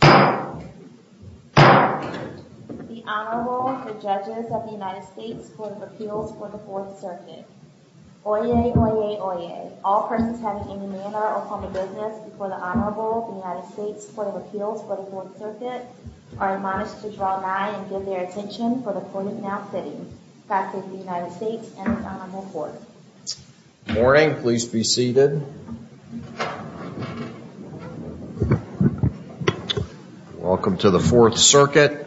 The Honorable, the Judges of the United States Court of Appeals for the 4th Circuit. Oyez, oyez, oyez, all persons having any manner of home or business before the Honorable, the United States Court of Appeals for the 4th Circuit, are admonished to draw nigh and give their attention for the court is now sitting. God save the United States and its Honorable Court. Good morning. Please be seated. Welcome to the 4th Circuit.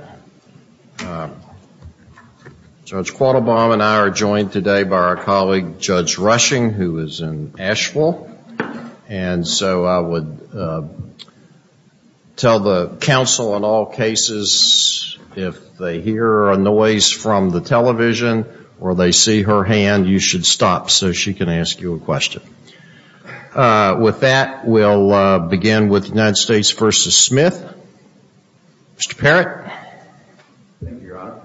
Judge Quattlebaum and I are joined today by our colleague, Judge Rushing, who is in Asheville. And so I would tell the counsel in all cases, if they hear a noise from the television or they see her hand, you should stop so she can ask you a question. With that, we'll begin with the United States v. Smith. Mr. Parrott. Thank you, Your Honor.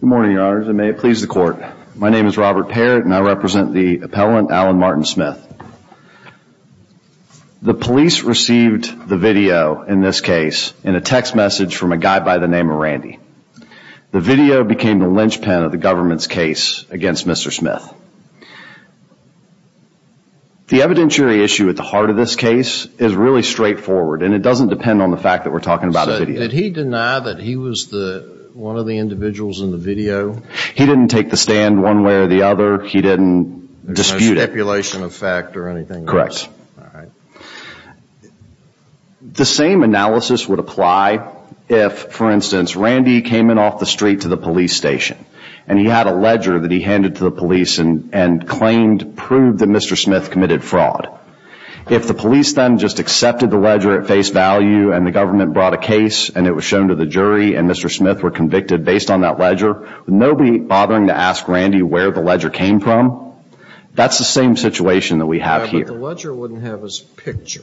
Good morning, Your Honors, and may it please the Court. My name is Robert Parrott and I represent the appellant, Allen Martin Smith. The police received the video in this case in a text message from a guy by the name of Randy. The video became the linchpin of the government's case against Mr. Smith. The evidentiary issue at the heart of this case is really straightforward, and it doesn't depend on the fact that we're talking about a video. So did he deny that he was one of the individuals in the video? He didn't take the stand one way or the other. He didn't dispute it. No stipulation of fact or anything else? Correct. All right. The same analysis would apply if, for instance, Randy came in off the street to the police station and he had a ledger that he handed to the police and claimed, proved that Mr. Smith committed fraud. If the police then just accepted the ledger at face value and the government brought a case and it was shown to the jury and Mr. Smith were convicted based on that ledger, with nobody bothering to ask Randy where the ledger came from, that's the same situation that we have here. The ledger wouldn't have his picture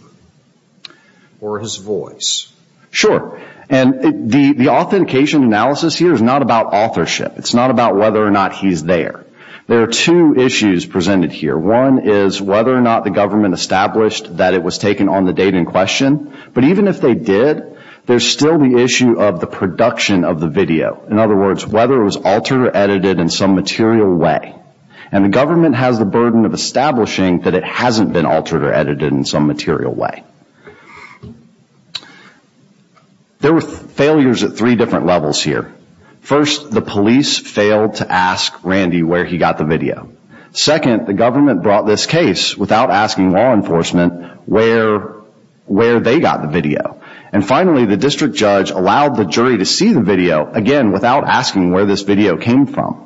or his voice. Sure. And the authentication analysis here is not about authorship. It's not about whether or not he's there. There are two issues presented here. One is whether or not the government established that it was taken on the date in question. But even if they did, there's still the issue of the production of the video, in other words, whether it was altered or edited in some material way. And the government has the burden of establishing that it hasn't been altered or edited in some material way. There were failures at three different levels here. First, the police failed to ask Randy where he got the video. Second, the government brought this case without asking law enforcement where they got the video. And finally, the district judge allowed the jury to see the video, again, without asking where this video came from.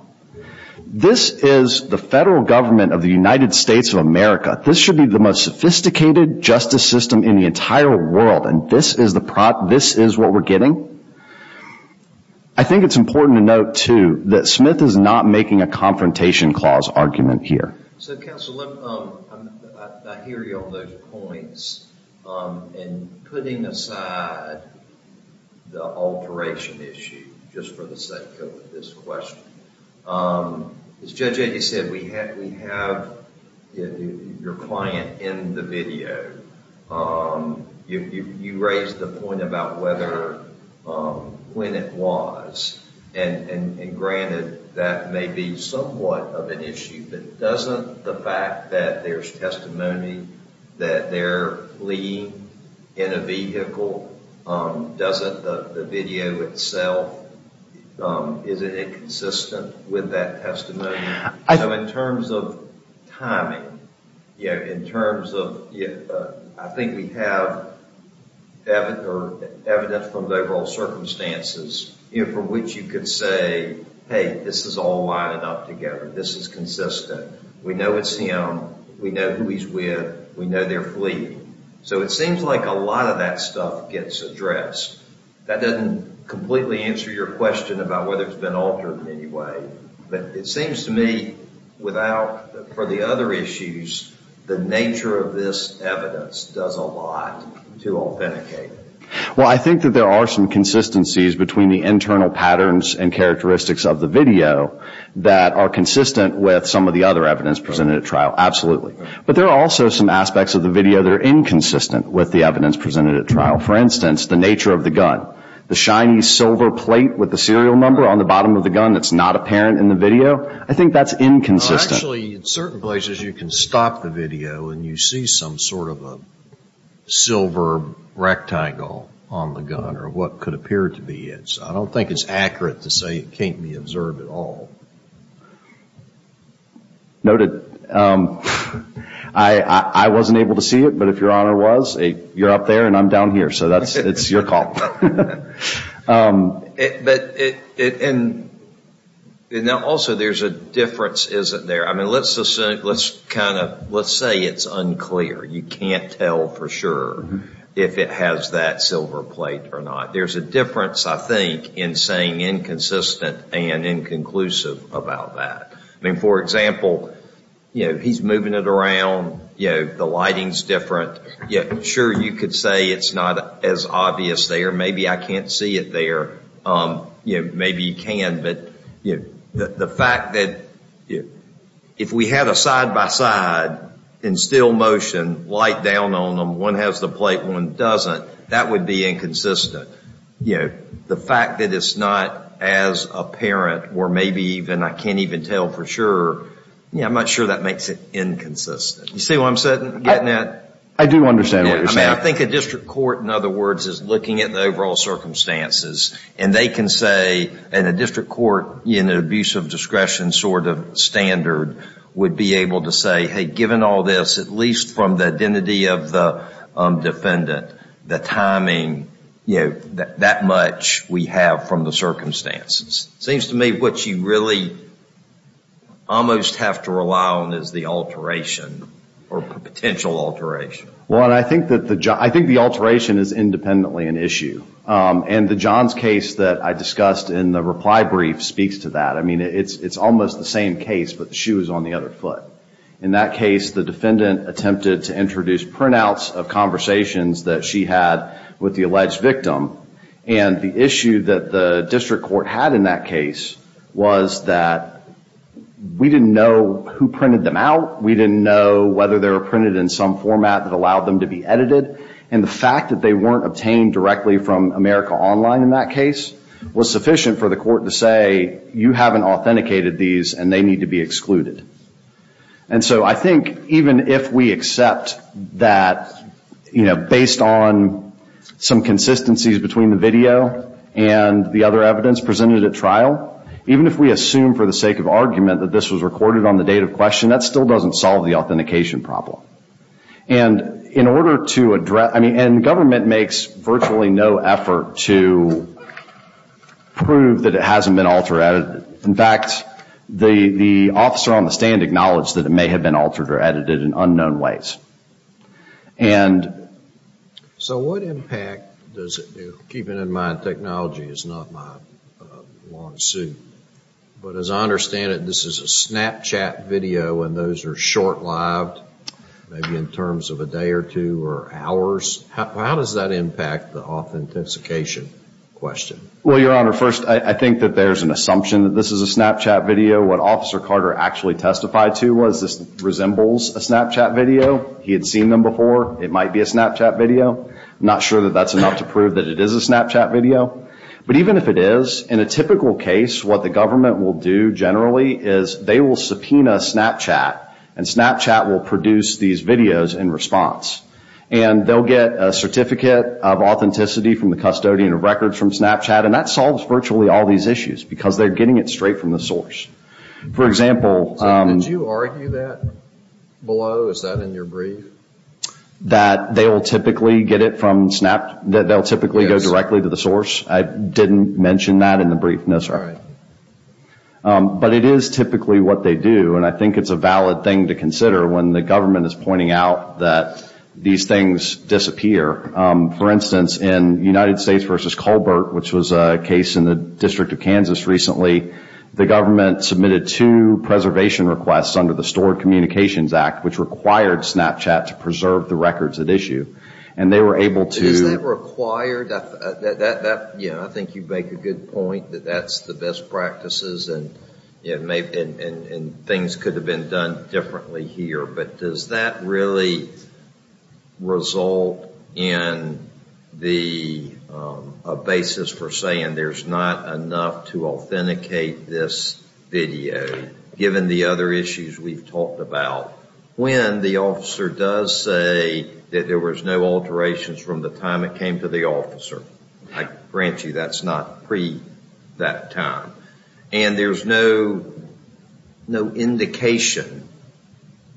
This is the federal government of the United States of America. This should be the most sophisticated justice system in the entire world, and this is what we're getting? I think it's important to note, too, that Smith is not making a confrontation clause argument here. So, counsel, I hear you on those points. And putting aside the alteration issue, just for the sake of this question, as Judge Enge said, we have your client in the video. You raised the point about when it was. And granted, that may be somewhat of an issue. But doesn't the fact that there's testimony that they're leading in a vehicle, doesn't the video itself, is it inconsistent with that testimony? So in terms of timing, in terms of, I think we have evidence from the overall circumstances from which you could say, hey, this is all lining up together. This is consistent. We know it's him. We know who he's with. We know they're fleeing. So it seems like a lot of that stuff gets addressed. That doesn't completely answer your question about whether it's been altered in any way. But it seems to me without, for the other issues, the nature of this evidence does a lot to authenticate it. Well, I think that there are some consistencies between the internal patterns and characteristics of the video that are consistent with some of the other evidence presented at trial. But there are also some aspects of the video that are inconsistent with the evidence presented at trial. For instance, the nature of the gun. The shiny silver plate with the serial number on the bottom of the gun that's not apparent in the video, I think that's inconsistent. Well, actually, in certain places you can stop the video and you see some sort of a silver rectangle on the gun or what could appear to be it. So I don't think it's accurate to say it can't be observed at all. Noted. I wasn't able to see it, but if Your Honor was, you're up there and I'm down here. So it's your call. Also, there's a difference, isn't there? Let's say it's unclear. You can't tell for sure if it has that silver plate or not. There's a difference, I think, in saying inconsistent and inconclusive about that. For example, he's moving it around. The lighting's different. Sure, you could say it's not as obvious there. Maybe I can't see it there. Maybe you can. But the fact that if we had a side-by-side in still motion, light down on them, one has the plate, one doesn't, that would be inconsistent. The fact that it's not as apparent or maybe even I can't even tell for sure, I'm not sure that makes it inconsistent. You see what I'm getting at? I do understand what you're saying. I think a district court, in other words, is looking at the overall circumstances, and they can say in a district court, in an abuse of discretion sort of standard, would be able to say, hey, given all this, at least from the identity of the defendant, the timing, that much we have from the circumstances. It seems to me what you really almost have to rely on is the alteration or potential alteration. Well, I think the alteration is independently an issue. And the Johns case that I discussed in the reply brief speaks to that. I mean, it's almost the same case, but the shoe is on the other foot. In that case, the defendant attempted to introduce printouts of conversations that she had with the alleged victim. And the issue that the district court had in that case was that we didn't know who printed them out. We didn't know whether they were printed in some format that allowed them to be edited. And the fact that they weren't obtained directly from America Online in that case was sufficient for the court to say, you haven't authenticated these, and they need to be excluded. And so I think even if we accept that based on some consistencies between the video and the other evidence presented at trial, even if we assume for the sake of argument that this was recorded on the date of question, that still doesn't solve the authentication problem. And government makes virtually no effort to prove that it hasn't been alterated. In fact, the officer on the stand acknowledged that it may have been altered or edited in unknown ways. So what impact does it do? Keeping in mind technology is not my long suit. But as I understand it, this is a Snapchat video and those are short-lived, maybe in terms of a day or two or hours. How does that impact the authentication question? Well, Your Honor, first, I think that there's an assumption that this is a Snapchat video. What Officer Carter actually testified to was this resembles a Snapchat video. He had seen them before. It might be a Snapchat video. I'm not sure that that's enough to prove that it is a Snapchat video. But even if it is, in a typical case, what the government will do generally is they will subpoena Snapchat. And Snapchat will produce these videos in response. And they'll get a certificate of authenticity from the custodian of records from Snapchat. And that solves virtually all these issues because they're getting it straight from the source. For example... Did you argue that below? Is that in your brief? That they'll typically get it from Snap... that they'll typically go directly to the source? Yes. I didn't mention that in the brief. No, sorry. All right. But it is typically what they do. And I think it's a valid thing to consider when the government is pointing out that these things disappear. For instance, in United States v. Colbert, which was a case in the District of Kansas recently, the government submitted two preservation requests under the Stored Communications Act, which required Snapchat to preserve the records at issue. And they were able to... Is that required? Yeah, I think you make a good point that that's the best practices. And things could have been done differently here. But does that really result in a basis for saying there's not enough to authenticate this video, given the other issues we've talked about? Well, when the officer does say that there was no alterations from the time it came to the officer, I grant you that's not pre that time. And there's no indication...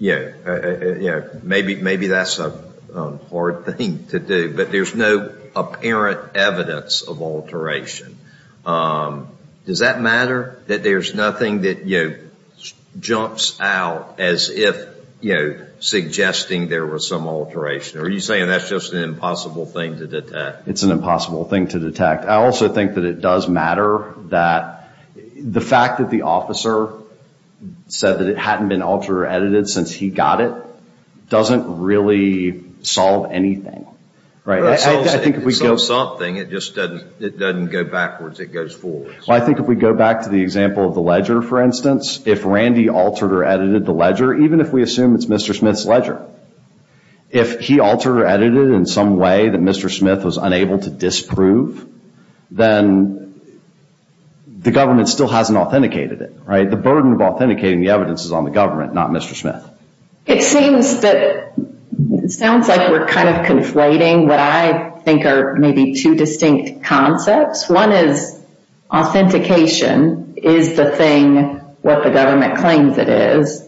Maybe that's a hard thing to do. But there's no apparent evidence of alteration. Does that matter, that there's nothing that jumps out as if suggesting there was some alteration? Are you saying that's just an impossible thing to detect? It's an impossible thing to detect. I also think that it does matter that the fact that the officer said that it hadn't been altered or edited since he got it doesn't really solve anything. It solves something, it just doesn't go backwards, it goes forwards. Well, I think if we go back to the example of the ledger, for instance, if Randy altered or edited the ledger, even if we assume it's Mr. Smith's ledger, if he altered or edited it in some way that Mr. Smith was unable to disprove, then the government still hasn't authenticated it. The burden of authenticating the evidence is on the government, not Mr. Smith. It sounds like we're kind of conflating what I think are maybe two distinct concepts. One is authentication. Is the thing what the government claims it is?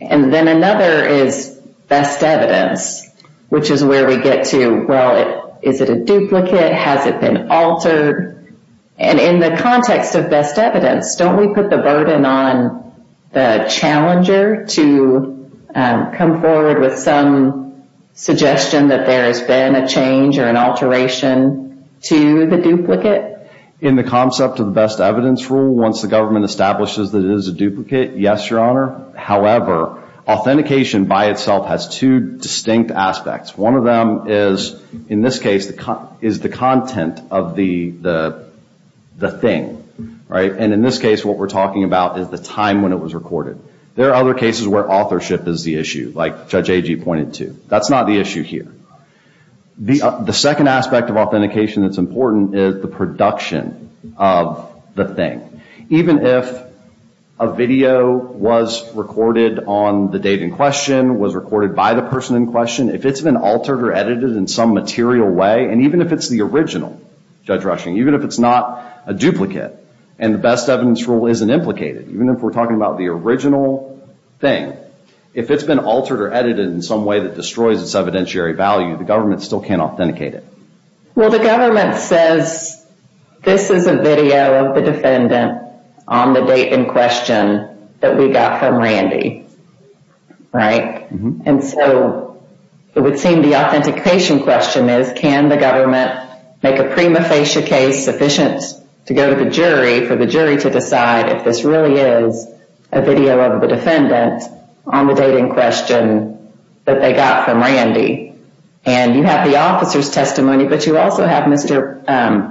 And then another is best evidence, which is where we get to, well, is it a duplicate? Has it been altered? And in the context of best evidence, don't we put the burden on the challenger to come forward with some suggestion that there has been a change or an alteration to the duplicate? In the concept of the best evidence rule, once the government establishes that it is a duplicate, yes, Your Honor. However, authentication by itself has two distinct aspects. One of them is, in this case, is the content of the thing. And in this case, what we're talking about is the time when it was recorded. There are other cases where authorship is the issue, like Judge Agee pointed to. That's not the issue here. The second aspect of authentication that's important is the production of the thing. Even if a video was recorded on the date in question, was recorded by the person in question, if it's been altered or edited in some material way, and even if it's the original, Judge Rushing, even if it's not a duplicate and the best evidence rule isn't implicated, even if we're talking about the original thing, if it's been altered or edited in some way that destroys its evidentiary value, the government still can't authenticate it. Well, the government says this is a video of the defendant on the date in question that we got from Randy, right? And so it would seem the authentication question is, can the government make a prima facie case sufficient to go to the jury for the jury to decide if this really is a video of the defendant on the date in question that they got from Randy? And you have the officer's testimony, but you also have Mr.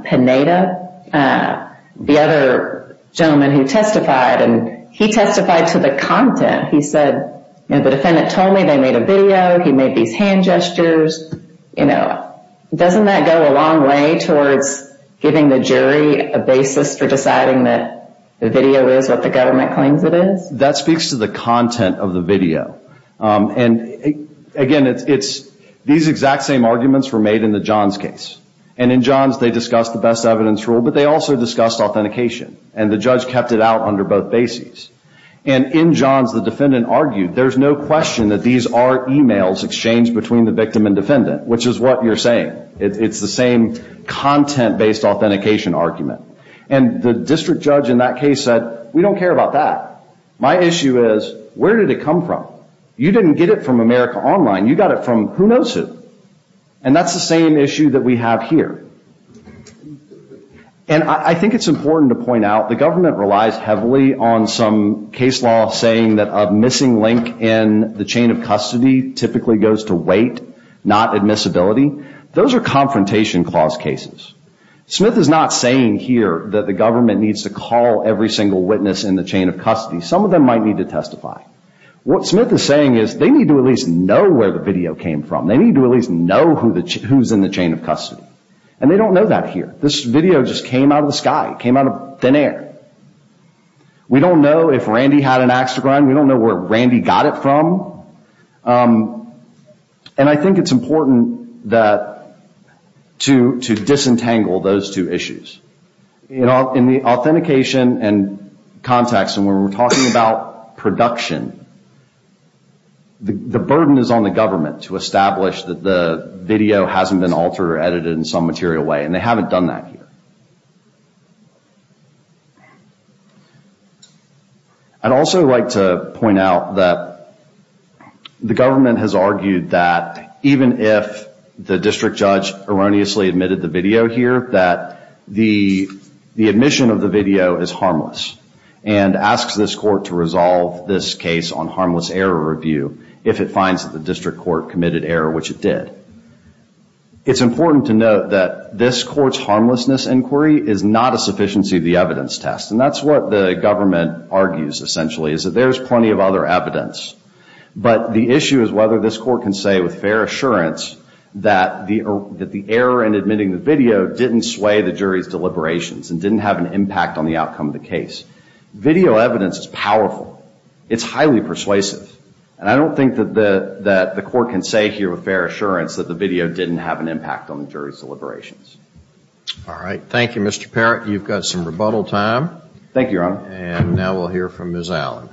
Pineda, the other gentleman who testified, and he testified to the content. He said, you know, the defendant told me they made a video. He made these hand gestures. You know, doesn't that go a long way towards giving the jury a basis for deciding that the video is what the government claims it is? That speaks to the content of the video. And, again, it's these exact same arguments were made in the Johns case, and in Johns they discussed the best evidence rule, but they also discussed authentication, and the judge kept it out under both bases. And in Johns the defendant argued there's no question that these are e-mails exchanged between the victim and defendant, which is what you're saying. It's the same content-based authentication argument. And the district judge in that case said, we don't care about that. My issue is, where did it come from? You didn't get it from America Online. You got it from who knows who, and that's the same issue that we have here. And I think it's important to point out the government relies heavily on some case law saying that a missing link in the chain of custody typically goes to weight, not admissibility. Those are confrontation clause cases. Smith is not saying here that the government needs to call every single witness in the chain of custody. Some of them might need to testify. What Smith is saying is they need to at least know where the video came from. They need to at least know who's in the chain of custody. And they don't know that here. This video just came out of the sky. It came out of thin air. We don't know if Randy had an axe to grind. We don't know where Randy got it from. And I think it's important to disentangle those two issues. In the authentication and context, and when we're talking about production, the burden is on the government to establish that the video hasn't been altered or edited in some material way, and they haven't done that here. I'd also like to point out that the government has argued that even if the district judge erroneously admitted the video here, that the admission of the video is harmless and asks this court to resolve this case on harmless error review if it finds that the district court committed error, which it did. It's important to note that this court's harmlessness inquiry is not a sufficiency of the evidence test. And that's what the government argues, essentially, is that there's plenty of other evidence. But the issue is whether this court can say with fair assurance that the error in admitting the video didn't sway the jury's deliberations and didn't have an impact on the outcome of the case. Video evidence is powerful. It's highly persuasive. And I don't think that the court can say here with fair assurance that the video didn't have an impact on the jury's deliberations. All right. Thank you, Mr. Parrott. You've got some rebuttal time. Thank you, Your Honor. And now we'll hear from Ms. Allen.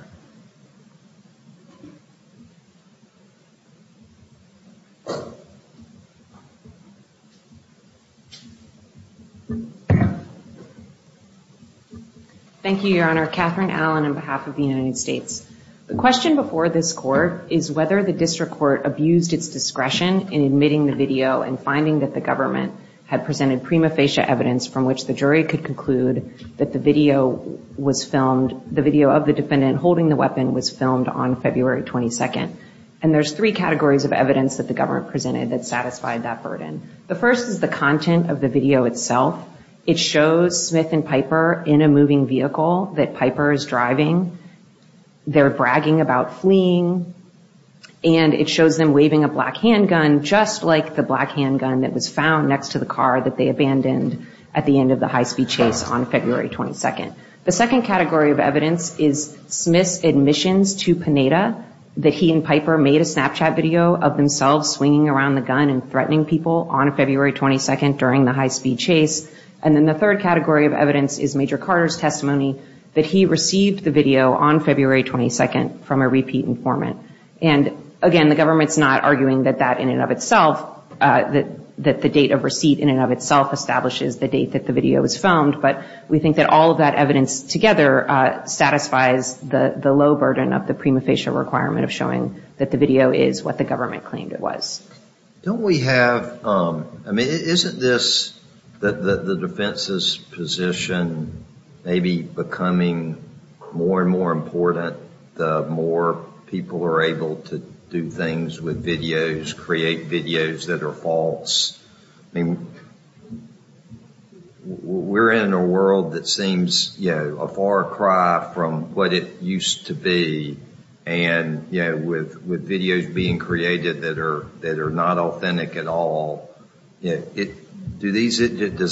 Thank you, Your Honor. Katherine Allen on behalf of the United States. The question before this court is whether the district court abused its discretion in admitting the video and finding that the government had presented prima facie evidence from which the jury could conclude that the video was filmed, the video of the defendant holding the weapon was filmed on February 22nd. And there's three categories of evidence that the government presented that satisfied that burden. The first is the content of the video itself. It shows Smith and Piper in a moving vehicle that Piper is driving. They're bragging about fleeing. And it shows them waving a black handgun just like the black handgun that was found next to the car that they abandoned at the end of the high-speed chase on February 22nd. The second category of evidence is Smith's admissions to Panetta that he and Piper made a Snapchat video of themselves swinging around the gun and threatening people on February 22nd during the high-speed chase. And then the third category of evidence is Major Carter's testimony that he received the video on February 22nd from a repeat informant. And, again, the government's not arguing that that in and of itself, that the date of receipt in and of itself establishes the date that the video was filmed. But we think that all of that evidence together satisfies the low burden of the prima facie requirement of showing that the video is what the government claimed it was. Don't we have, I mean, isn't this, the defense's position maybe becoming more and more important the more people are able to do things with videos, create videos that are false? I mean, we're in a world that seems, you know, a far cry from what it used to be. And, you know, with videos being created that are not authentic at all, does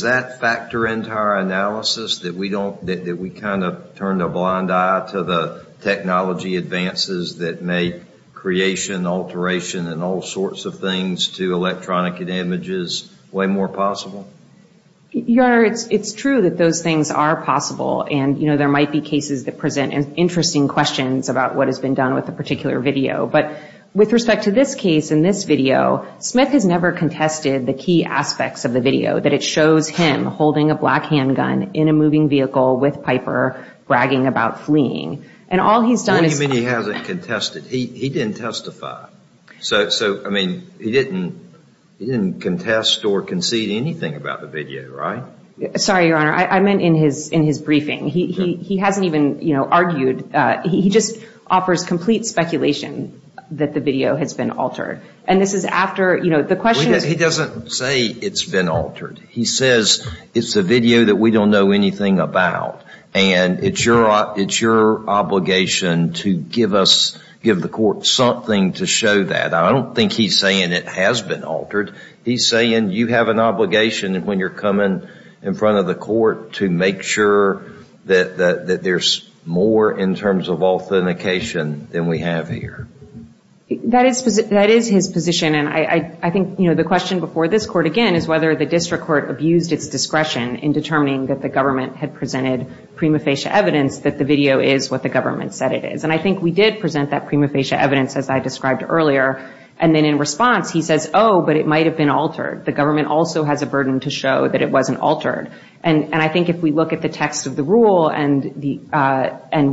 that factor into our analysis that we kind of turn a blind eye to the technology advances that make creation, alteration, and all sorts of things to electronic images way more possible? Your Honor, it's true that those things are possible. And, you know, there might be cases that present interesting questions about what has been done with a particular video. But with respect to this case, in this video, Smith has never contested the key aspects of the video, that it shows him holding a black handgun in a moving vehicle with Piper bragging about fleeing. And all he's done is- What do you mean he hasn't contested? He didn't testify. So, I mean, he didn't contest or concede anything about the video, right? Sorry, Your Honor. I meant in his briefing. He hasn't even, you know, argued. He just offers complete speculation that the video has been altered. And this is after, you know, the question is- He doesn't say it's been altered. He says it's a video that we don't know anything about, and it's your obligation to give us, give the court something to show that. I don't think he's saying it has been altered. He's saying you have an obligation when you're coming in front of the court to make sure that there's more in terms of authentication than we have here. That is his position. And I think, you know, the question before this court, again, is whether the district court abused its discretion in determining that the government had presented prima facie evidence that the video is what the government said it is. And I think we did present that prima facie evidence, as I described earlier. And then in response, he says, oh, but it might have been altered. The government also has a burden to show that it wasn't altered. And I think if we look at the text of the rule and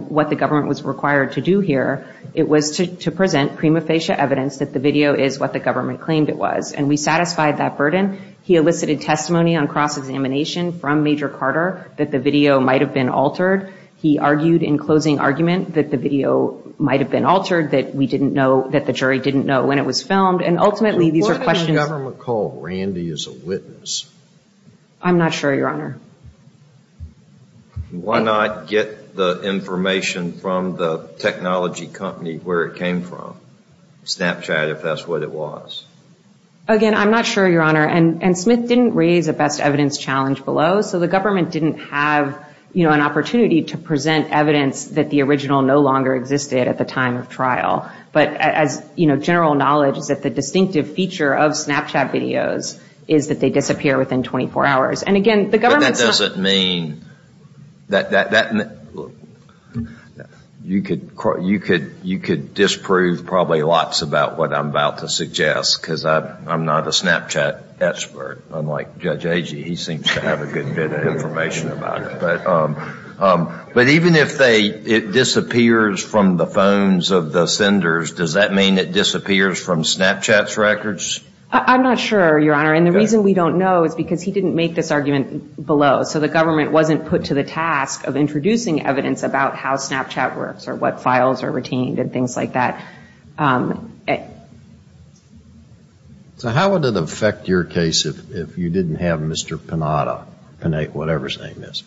what the government was required to do here, it was to present prima facie evidence that the video is what the government claimed it was. And we satisfied that burden. He elicited testimony on cross-examination from Major Carter that the video might have been altered. He argued in closing argument that the video might have been altered, that we didn't know, that the jury didn't know when it was filmed. And ultimately these are questions- What did the government call Randy as a witness? I'm not sure, Your Honor. Why not get the information from the technology company where it came from, Snapchat, if that's what it was? Again, I'm not sure, Your Honor. And Smith didn't raise a best evidence challenge below. So the government didn't have, you know, an opportunity to present evidence that the original no longer existed at the time of trial. But as, you know, general knowledge is that the distinctive feature of Snapchat videos is that they disappear within 24 hours. And again, the government's not- But that doesn't mean- You could disprove probably lots about what I'm about to suggest, because I'm not a Snapchat expert, unlike Judge Agee. He seems to have a good bit of information about it. But even if it disappears from the phones of the senders, does that mean it disappears from Snapchat's records? I'm not sure, Your Honor. And the reason we don't know is because he didn't make this argument below. So the government wasn't put to the task of introducing evidence about how Snapchat works or what files are retained and things like that. So how would it affect your case if you didn't have Mr. Panetta, whatever his name is,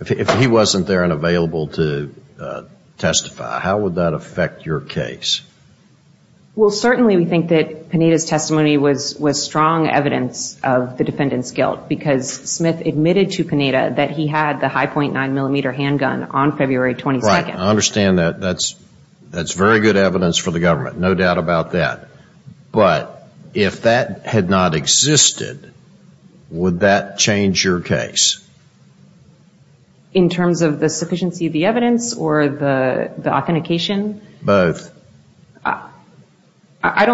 if he wasn't there and available to testify? How would that affect your case? Well, certainly we think that Panetta's testimony was strong evidence of the defendant's guilt, because Smith admitted to Panetta that he had the high .9-millimeter handgun on February 22nd. Right. I understand that's very good evidence for the government, no doubt about that. But if that had not existed, would that change your case? In terms of the sufficiency of the evidence or the authentication? Both. I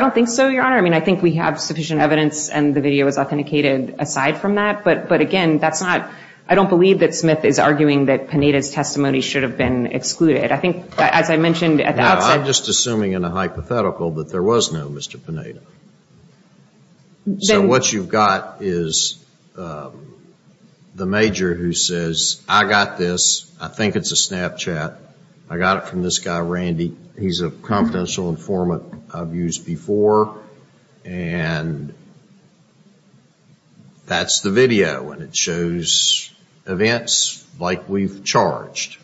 don't think so, Your Honor. I mean, I think we have sufficient evidence and the video is authenticated aside from that. But, again, I don't believe that Smith is arguing that Panetta's testimony should have been excluded. I think, as I mentioned at the outset. No, I'm just assuming in a hypothetical that there was no Mr. Panetta. So what you've got is the major who says, I got this. I think it's a Snapchat. I got it from this guy, Randy. He's a confidential informant I've used before. And that's the video. And it shows events like we've charged.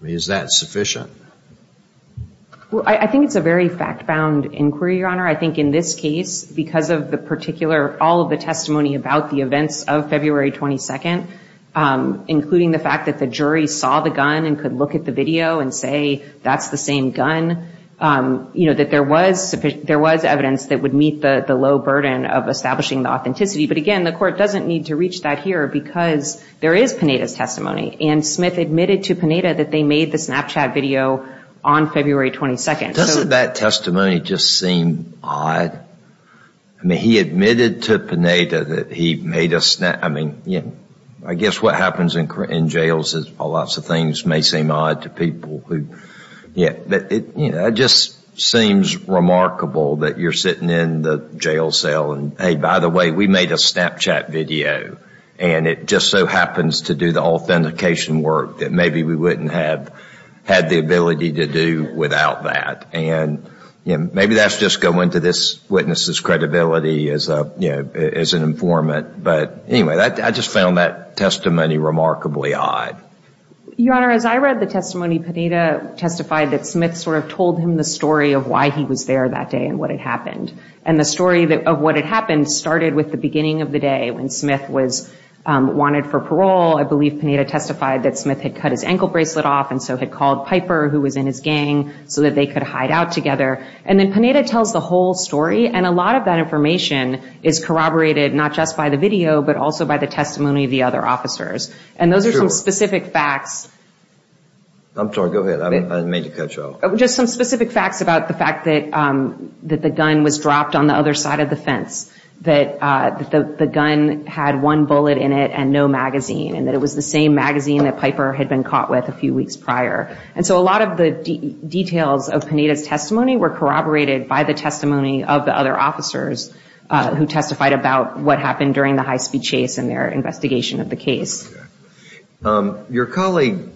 I mean, is that sufficient? Well, I think it's a very fact-bound inquiry, Your Honor. I think in this case, because of the particular, all of the testimony about the events of February 22nd, including the fact that the jury saw the gun and could look at the video and say, that's the same gun, that there was evidence that would meet the low burden of establishing the authenticity. But, again, the Court doesn't need to reach that here because there is Panetta's testimony. And Smith admitted to Panetta that they made the Snapchat video on February 22nd. Doesn't that testimony just seem odd? I mean, he admitted to Panetta that he made a Snapchat. I mean, I guess what happens in jails is lots of things may seem odd to people. But it just seems remarkable that you're sitting in the jail cell and, hey, by the way, we made a Snapchat video. And it just so happens to do the authentication work that maybe we wouldn't have had the ability to do without that. And maybe that's just going to this witness's credibility as an informant. But, anyway, I just found that testimony remarkably odd. Your Honor, as I read the testimony, Panetta testified that Smith sort of told him the story of why he was there that day and what had happened. And the story of what had happened started with the beginning of the day when Smith was wanted for parole. I believe Panetta testified that Smith had cut his ankle bracelet off and so had called Piper, who was in his gang, so that they could hide out together. And then Panetta tells the whole story. And a lot of that information is corroborated not just by the video but also by the testimony of the other officers. And those are some specific facts. I'm sorry. Go ahead. I didn't mean to cut you off. Just some specific facts about the fact that the gun was dropped on the other side of the fence. That the gun had one bullet in it and no magazine. And that it was the same magazine that Piper had been caught with a few weeks prior. And so a lot of the details of Panetta's testimony were corroborated by the testimony of the other officers who testified about what happened during the high-speed chase and their investigation of the case. Your colleague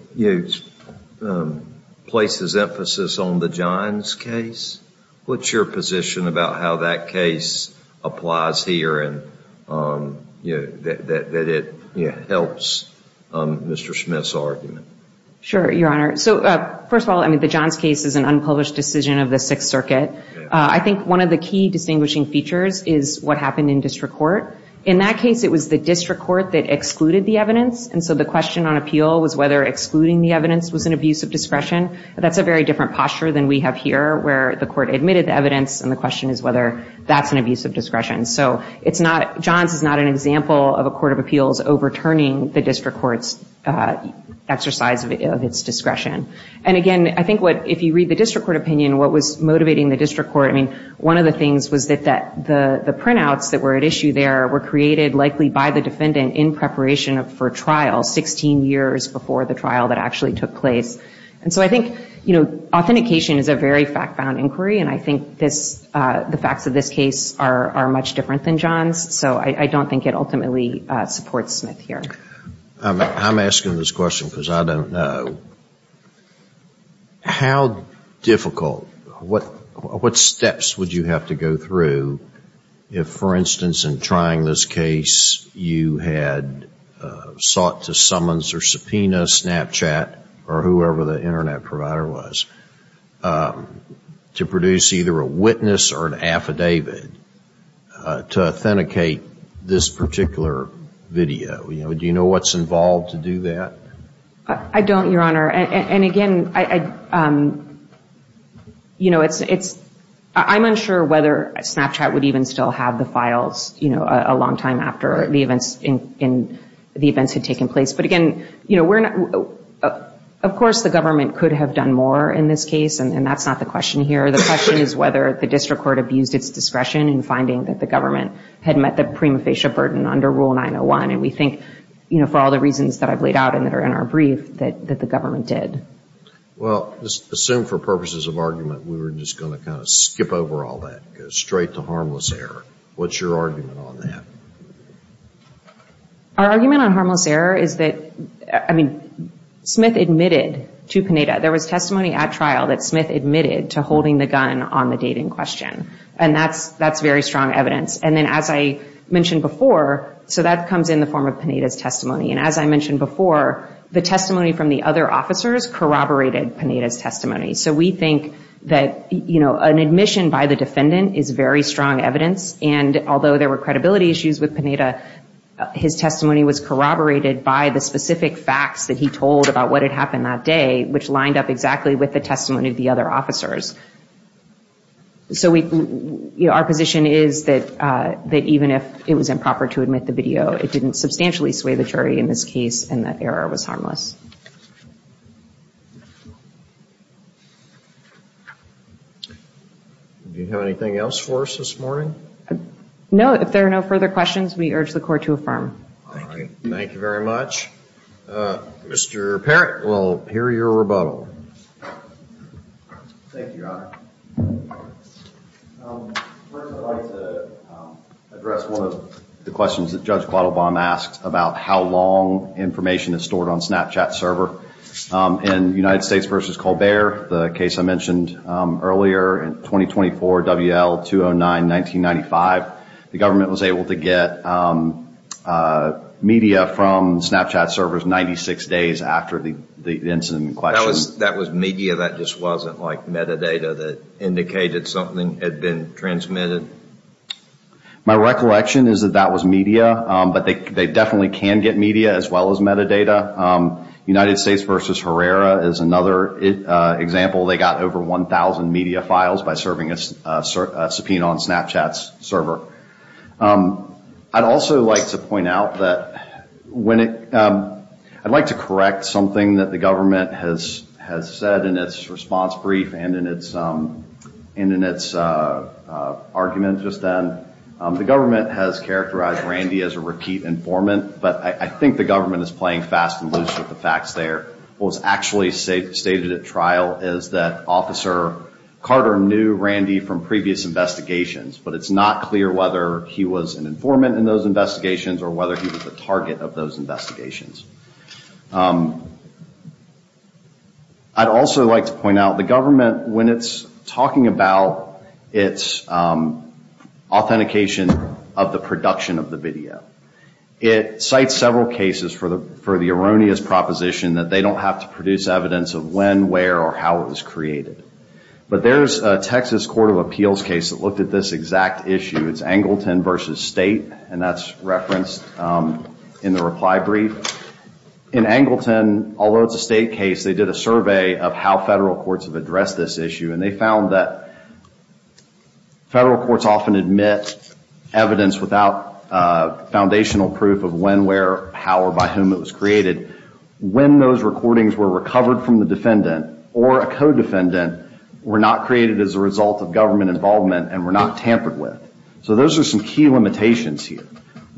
places emphasis on the Johns case. What's your position about how that case applies here and that it helps Mr. Smith's argument? Sure, Your Honor. So, first of all, the Johns case is an unpublished decision of the Sixth Circuit. I think one of the key distinguishing features is what happened in district court. In that case, it was the district court that excluded the evidence. And so the question on appeal was whether excluding the evidence was an abuse of discretion. That's a very different posture than we have here where the court admitted the evidence and the question is whether that's an abuse of discretion. So, Johns is not an example of a court of appeals overturning the district court's exercise of its discretion. And again, I think if you read the district court opinion, what was motivating the district court, I mean, one of the things was that the printouts that were at issue there were created likely by the defendant in preparation for trial, 16 years before the trial that actually took place. And so I think, you know, authentication is a very fact-bound inquiry, and I think the facts of this case are much different than Johns. So I don't think it ultimately supports Smith here. I'm asking this question because I don't know. How difficult, what steps would you have to go through if, for instance, in trying this case, you had sought to summons or subpoena Snapchat or whoever the Internet provider was, to produce either a witness or an affidavit to authenticate this particular video? Do you know what's involved to do that? I don't, Your Honor. And again, you know, I'm unsure whether Snapchat would even still have the files, you know, a long time after the events had taken place. But again, you know, of course the government could have done more in this case, and that's not the question here. The question is whether the district court abused its discretion in finding that the government had met the prima facie burden under Rule 901. And we think, you know, for all the reasons that I've laid out and that are in our brief, that the government did. Well, assume for purposes of argument we were just going to kind of skip over all that, go straight to harmless error. What's your argument on that? Our argument on harmless error is that, I mean, Smith admitted to Panetta. There was testimony at trial that Smith admitted to holding the gun on the date in question. And that's very strong evidence. And then as I mentioned before, so that comes in the form of Panetta's testimony. And as I mentioned before, the testimony from the other officers corroborated Panetta's testimony. So we think that, you know, an admission by the defendant is very strong evidence. And although there were credibility issues with Panetta, his testimony was corroborated by the specific facts that he told about what had happened that day, which lined up exactly with the testimony of the other officers. So we, you know, our position is that even if it was improper to admit the video, it didn't substantially sway the jury in this case, and that error was harmless. Do you have anything else for us this morning? No. If there are no further questions, we urge the Court to affirm. All right. Thank you very much. Mr. Parrott, we'll hear your rebuttal. Thank you, Your Honor. First, I'd like to address one of the questions that Judge Quattlebaum asked about how long information is stored on Snapchat In United States v. Colbert, the case I mentioned earlier, 2024 W.L. 209-1995, the government was able to get media from Snapchat servers 96 days after the incident in question. That was media? That just wasn't, like, metadata that indicated something had been transmitted? My recollection is that that was media, but they definitely can get media as well as metadata. United States v. Herrera is another example. They got over 1,000 media files by serving a subpoena on Snapchat's server. I'd also like to point out that I'd like to correct something that the government has said in its response brief and in its argument just then. The government has characterized Randy as a repeat informant, but I think the government is playing fast and loose with the facts there. What was actually stated at trial is that Officer Carter knew Randy from previous investigations, but it's not clear whether he was an informant in those investigations or whether he was the target of those investigations. I'd also like to point out the government, when it's talking about its authentication of the production of the video, it cites several cases for the erroneous proposition that they don't have to produce evidence of when, where, or how it was created. But there's a Texas court of appeals case that looked at this exact issue. It's Angleton v. State, and that's referenced in the reply brief. In Angleton, although it's a state case, they did a survey of how federal courts have addressed this issue, and they found that federal courts often admit evidence without foundational proof of when, where, how, or by whom it was created when those recordings were recovered from the defendant or a co-defendant were not created as a result of government involvement and were not tampered with. So those are some key limitations here.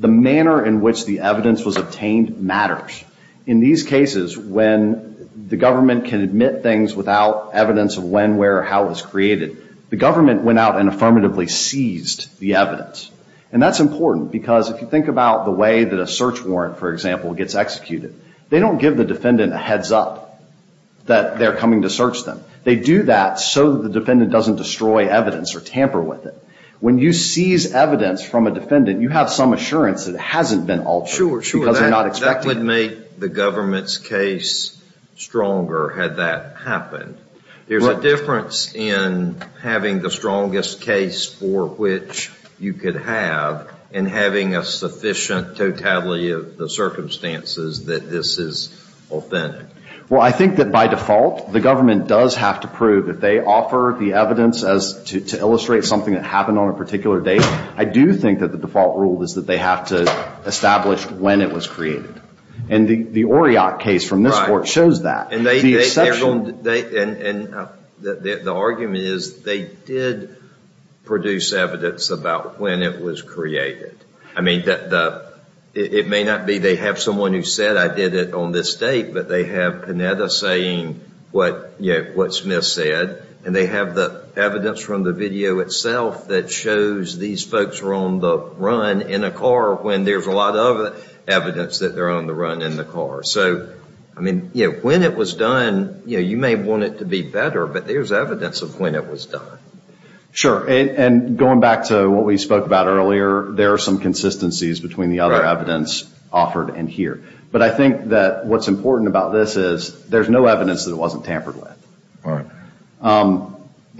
The manner in which the evidence was obtained matters. In these cases, when the government can admit things without evidence of when, where, or how it was created, the government went out and affirmatively seized the evidence. And that's important because if you think about the way that a search warrant, for example, gets executed, they don't give the defendant a heads-up that they're coming to search them. They do that so that the defendant doesn't destroy evidence or tamper with it. When you seize evidence from a defendant, you have some assurance that it hasn't been altered. Because they're not expecting it. That would make the government's case stronger had that happened. There's a difference in having the strongest case for which you could have and having a sufficient totality of the circumstances that this is authentic. Well, I think that by default, the government does have to prove that they offer the evidence to illustrate something that happened on a particular date. I do think that the default rule is that they have to establish when it was created. And the Oriot case from this court shows that. And the argument is they did produce evidence about when it was created. It may not be they have someone who said, I did it on this date, but they have Panetta saying what Smith said. And they have the evidence from the video itself that shows these folks were on the run in a car when there's a lot of evidence that they're on the run in the car. So when it was done, you may want it to be better, but there's evidence of when it was done. Sure. And going back to what we spoke about earlier, there are some consistencies between the other evidence offered in here. But I think that what's important about this is there's no evidence that it wasn't tampered with.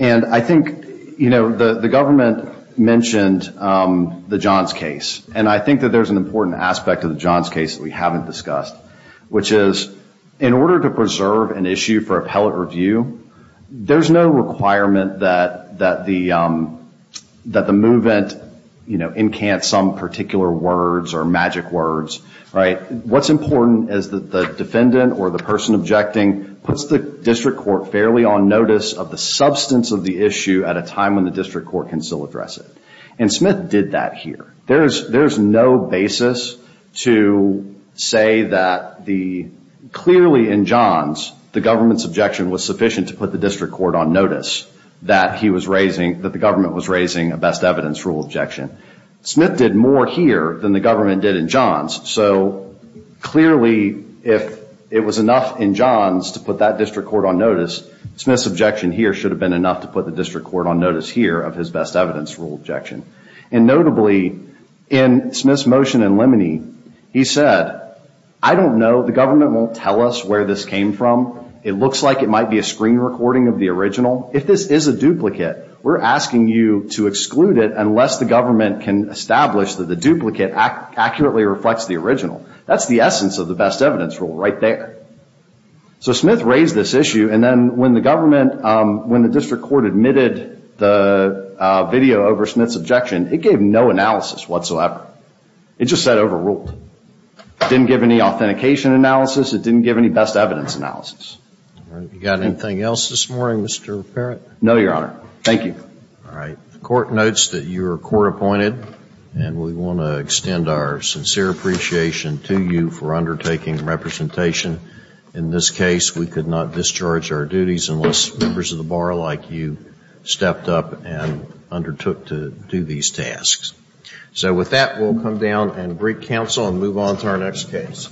And I think, you know, the government mentioned the Johns case, and I think that there's an important aspect of the Johns case that we haven't discussed, which is in order to preserve an issue for appellate review, there's no requirement that the movement, you know, incant some particular words or magic words, right? What's important is that the defendant or the person objecting puts the district court fairly on notice of the substance of the issue at a time when the district court can still address it. And Smith did that here. There's no basis to say that clearly in Johns, the government's objection was sufficient to put the district court on notice that the government was raising a best evidence rule objection. Smith did more here than the government did in Johns. So clearly if it was enough in Johns to put that district court on notice, Smith's objection here should have been enough to put the district court on notice here of his best evidence rule objection. And notably in Smith's motion in Lemony, he said, I don't know, the government won't tell us where this came from. It looks like it might be a screen recording of the original. If this is a duplicate, we're asking you to exclude it unless the government can establish that the duplicate accurately reflects the original. That's the essence of the best evidence rule right there. So Smith raised this issue, and then when the government, when the district court admitted the video over Smith's objection, it gave no analysis whatsoever. It just said overruled. It didn't give any authentication analysis. It didn't give any best evidence analysis. All right. You got anything else this morning, Mr. Parent? No, Your Honor. Thank you. All right. The court notes that you are court appointed, and we want to extend our sincere appreciation to you for undertaking representation. In this case, we could not discharge our duties unless members of the bar like you stepped up and undertook to do these tasks. So with that, we'll come down and greet counsel and move on to our next case.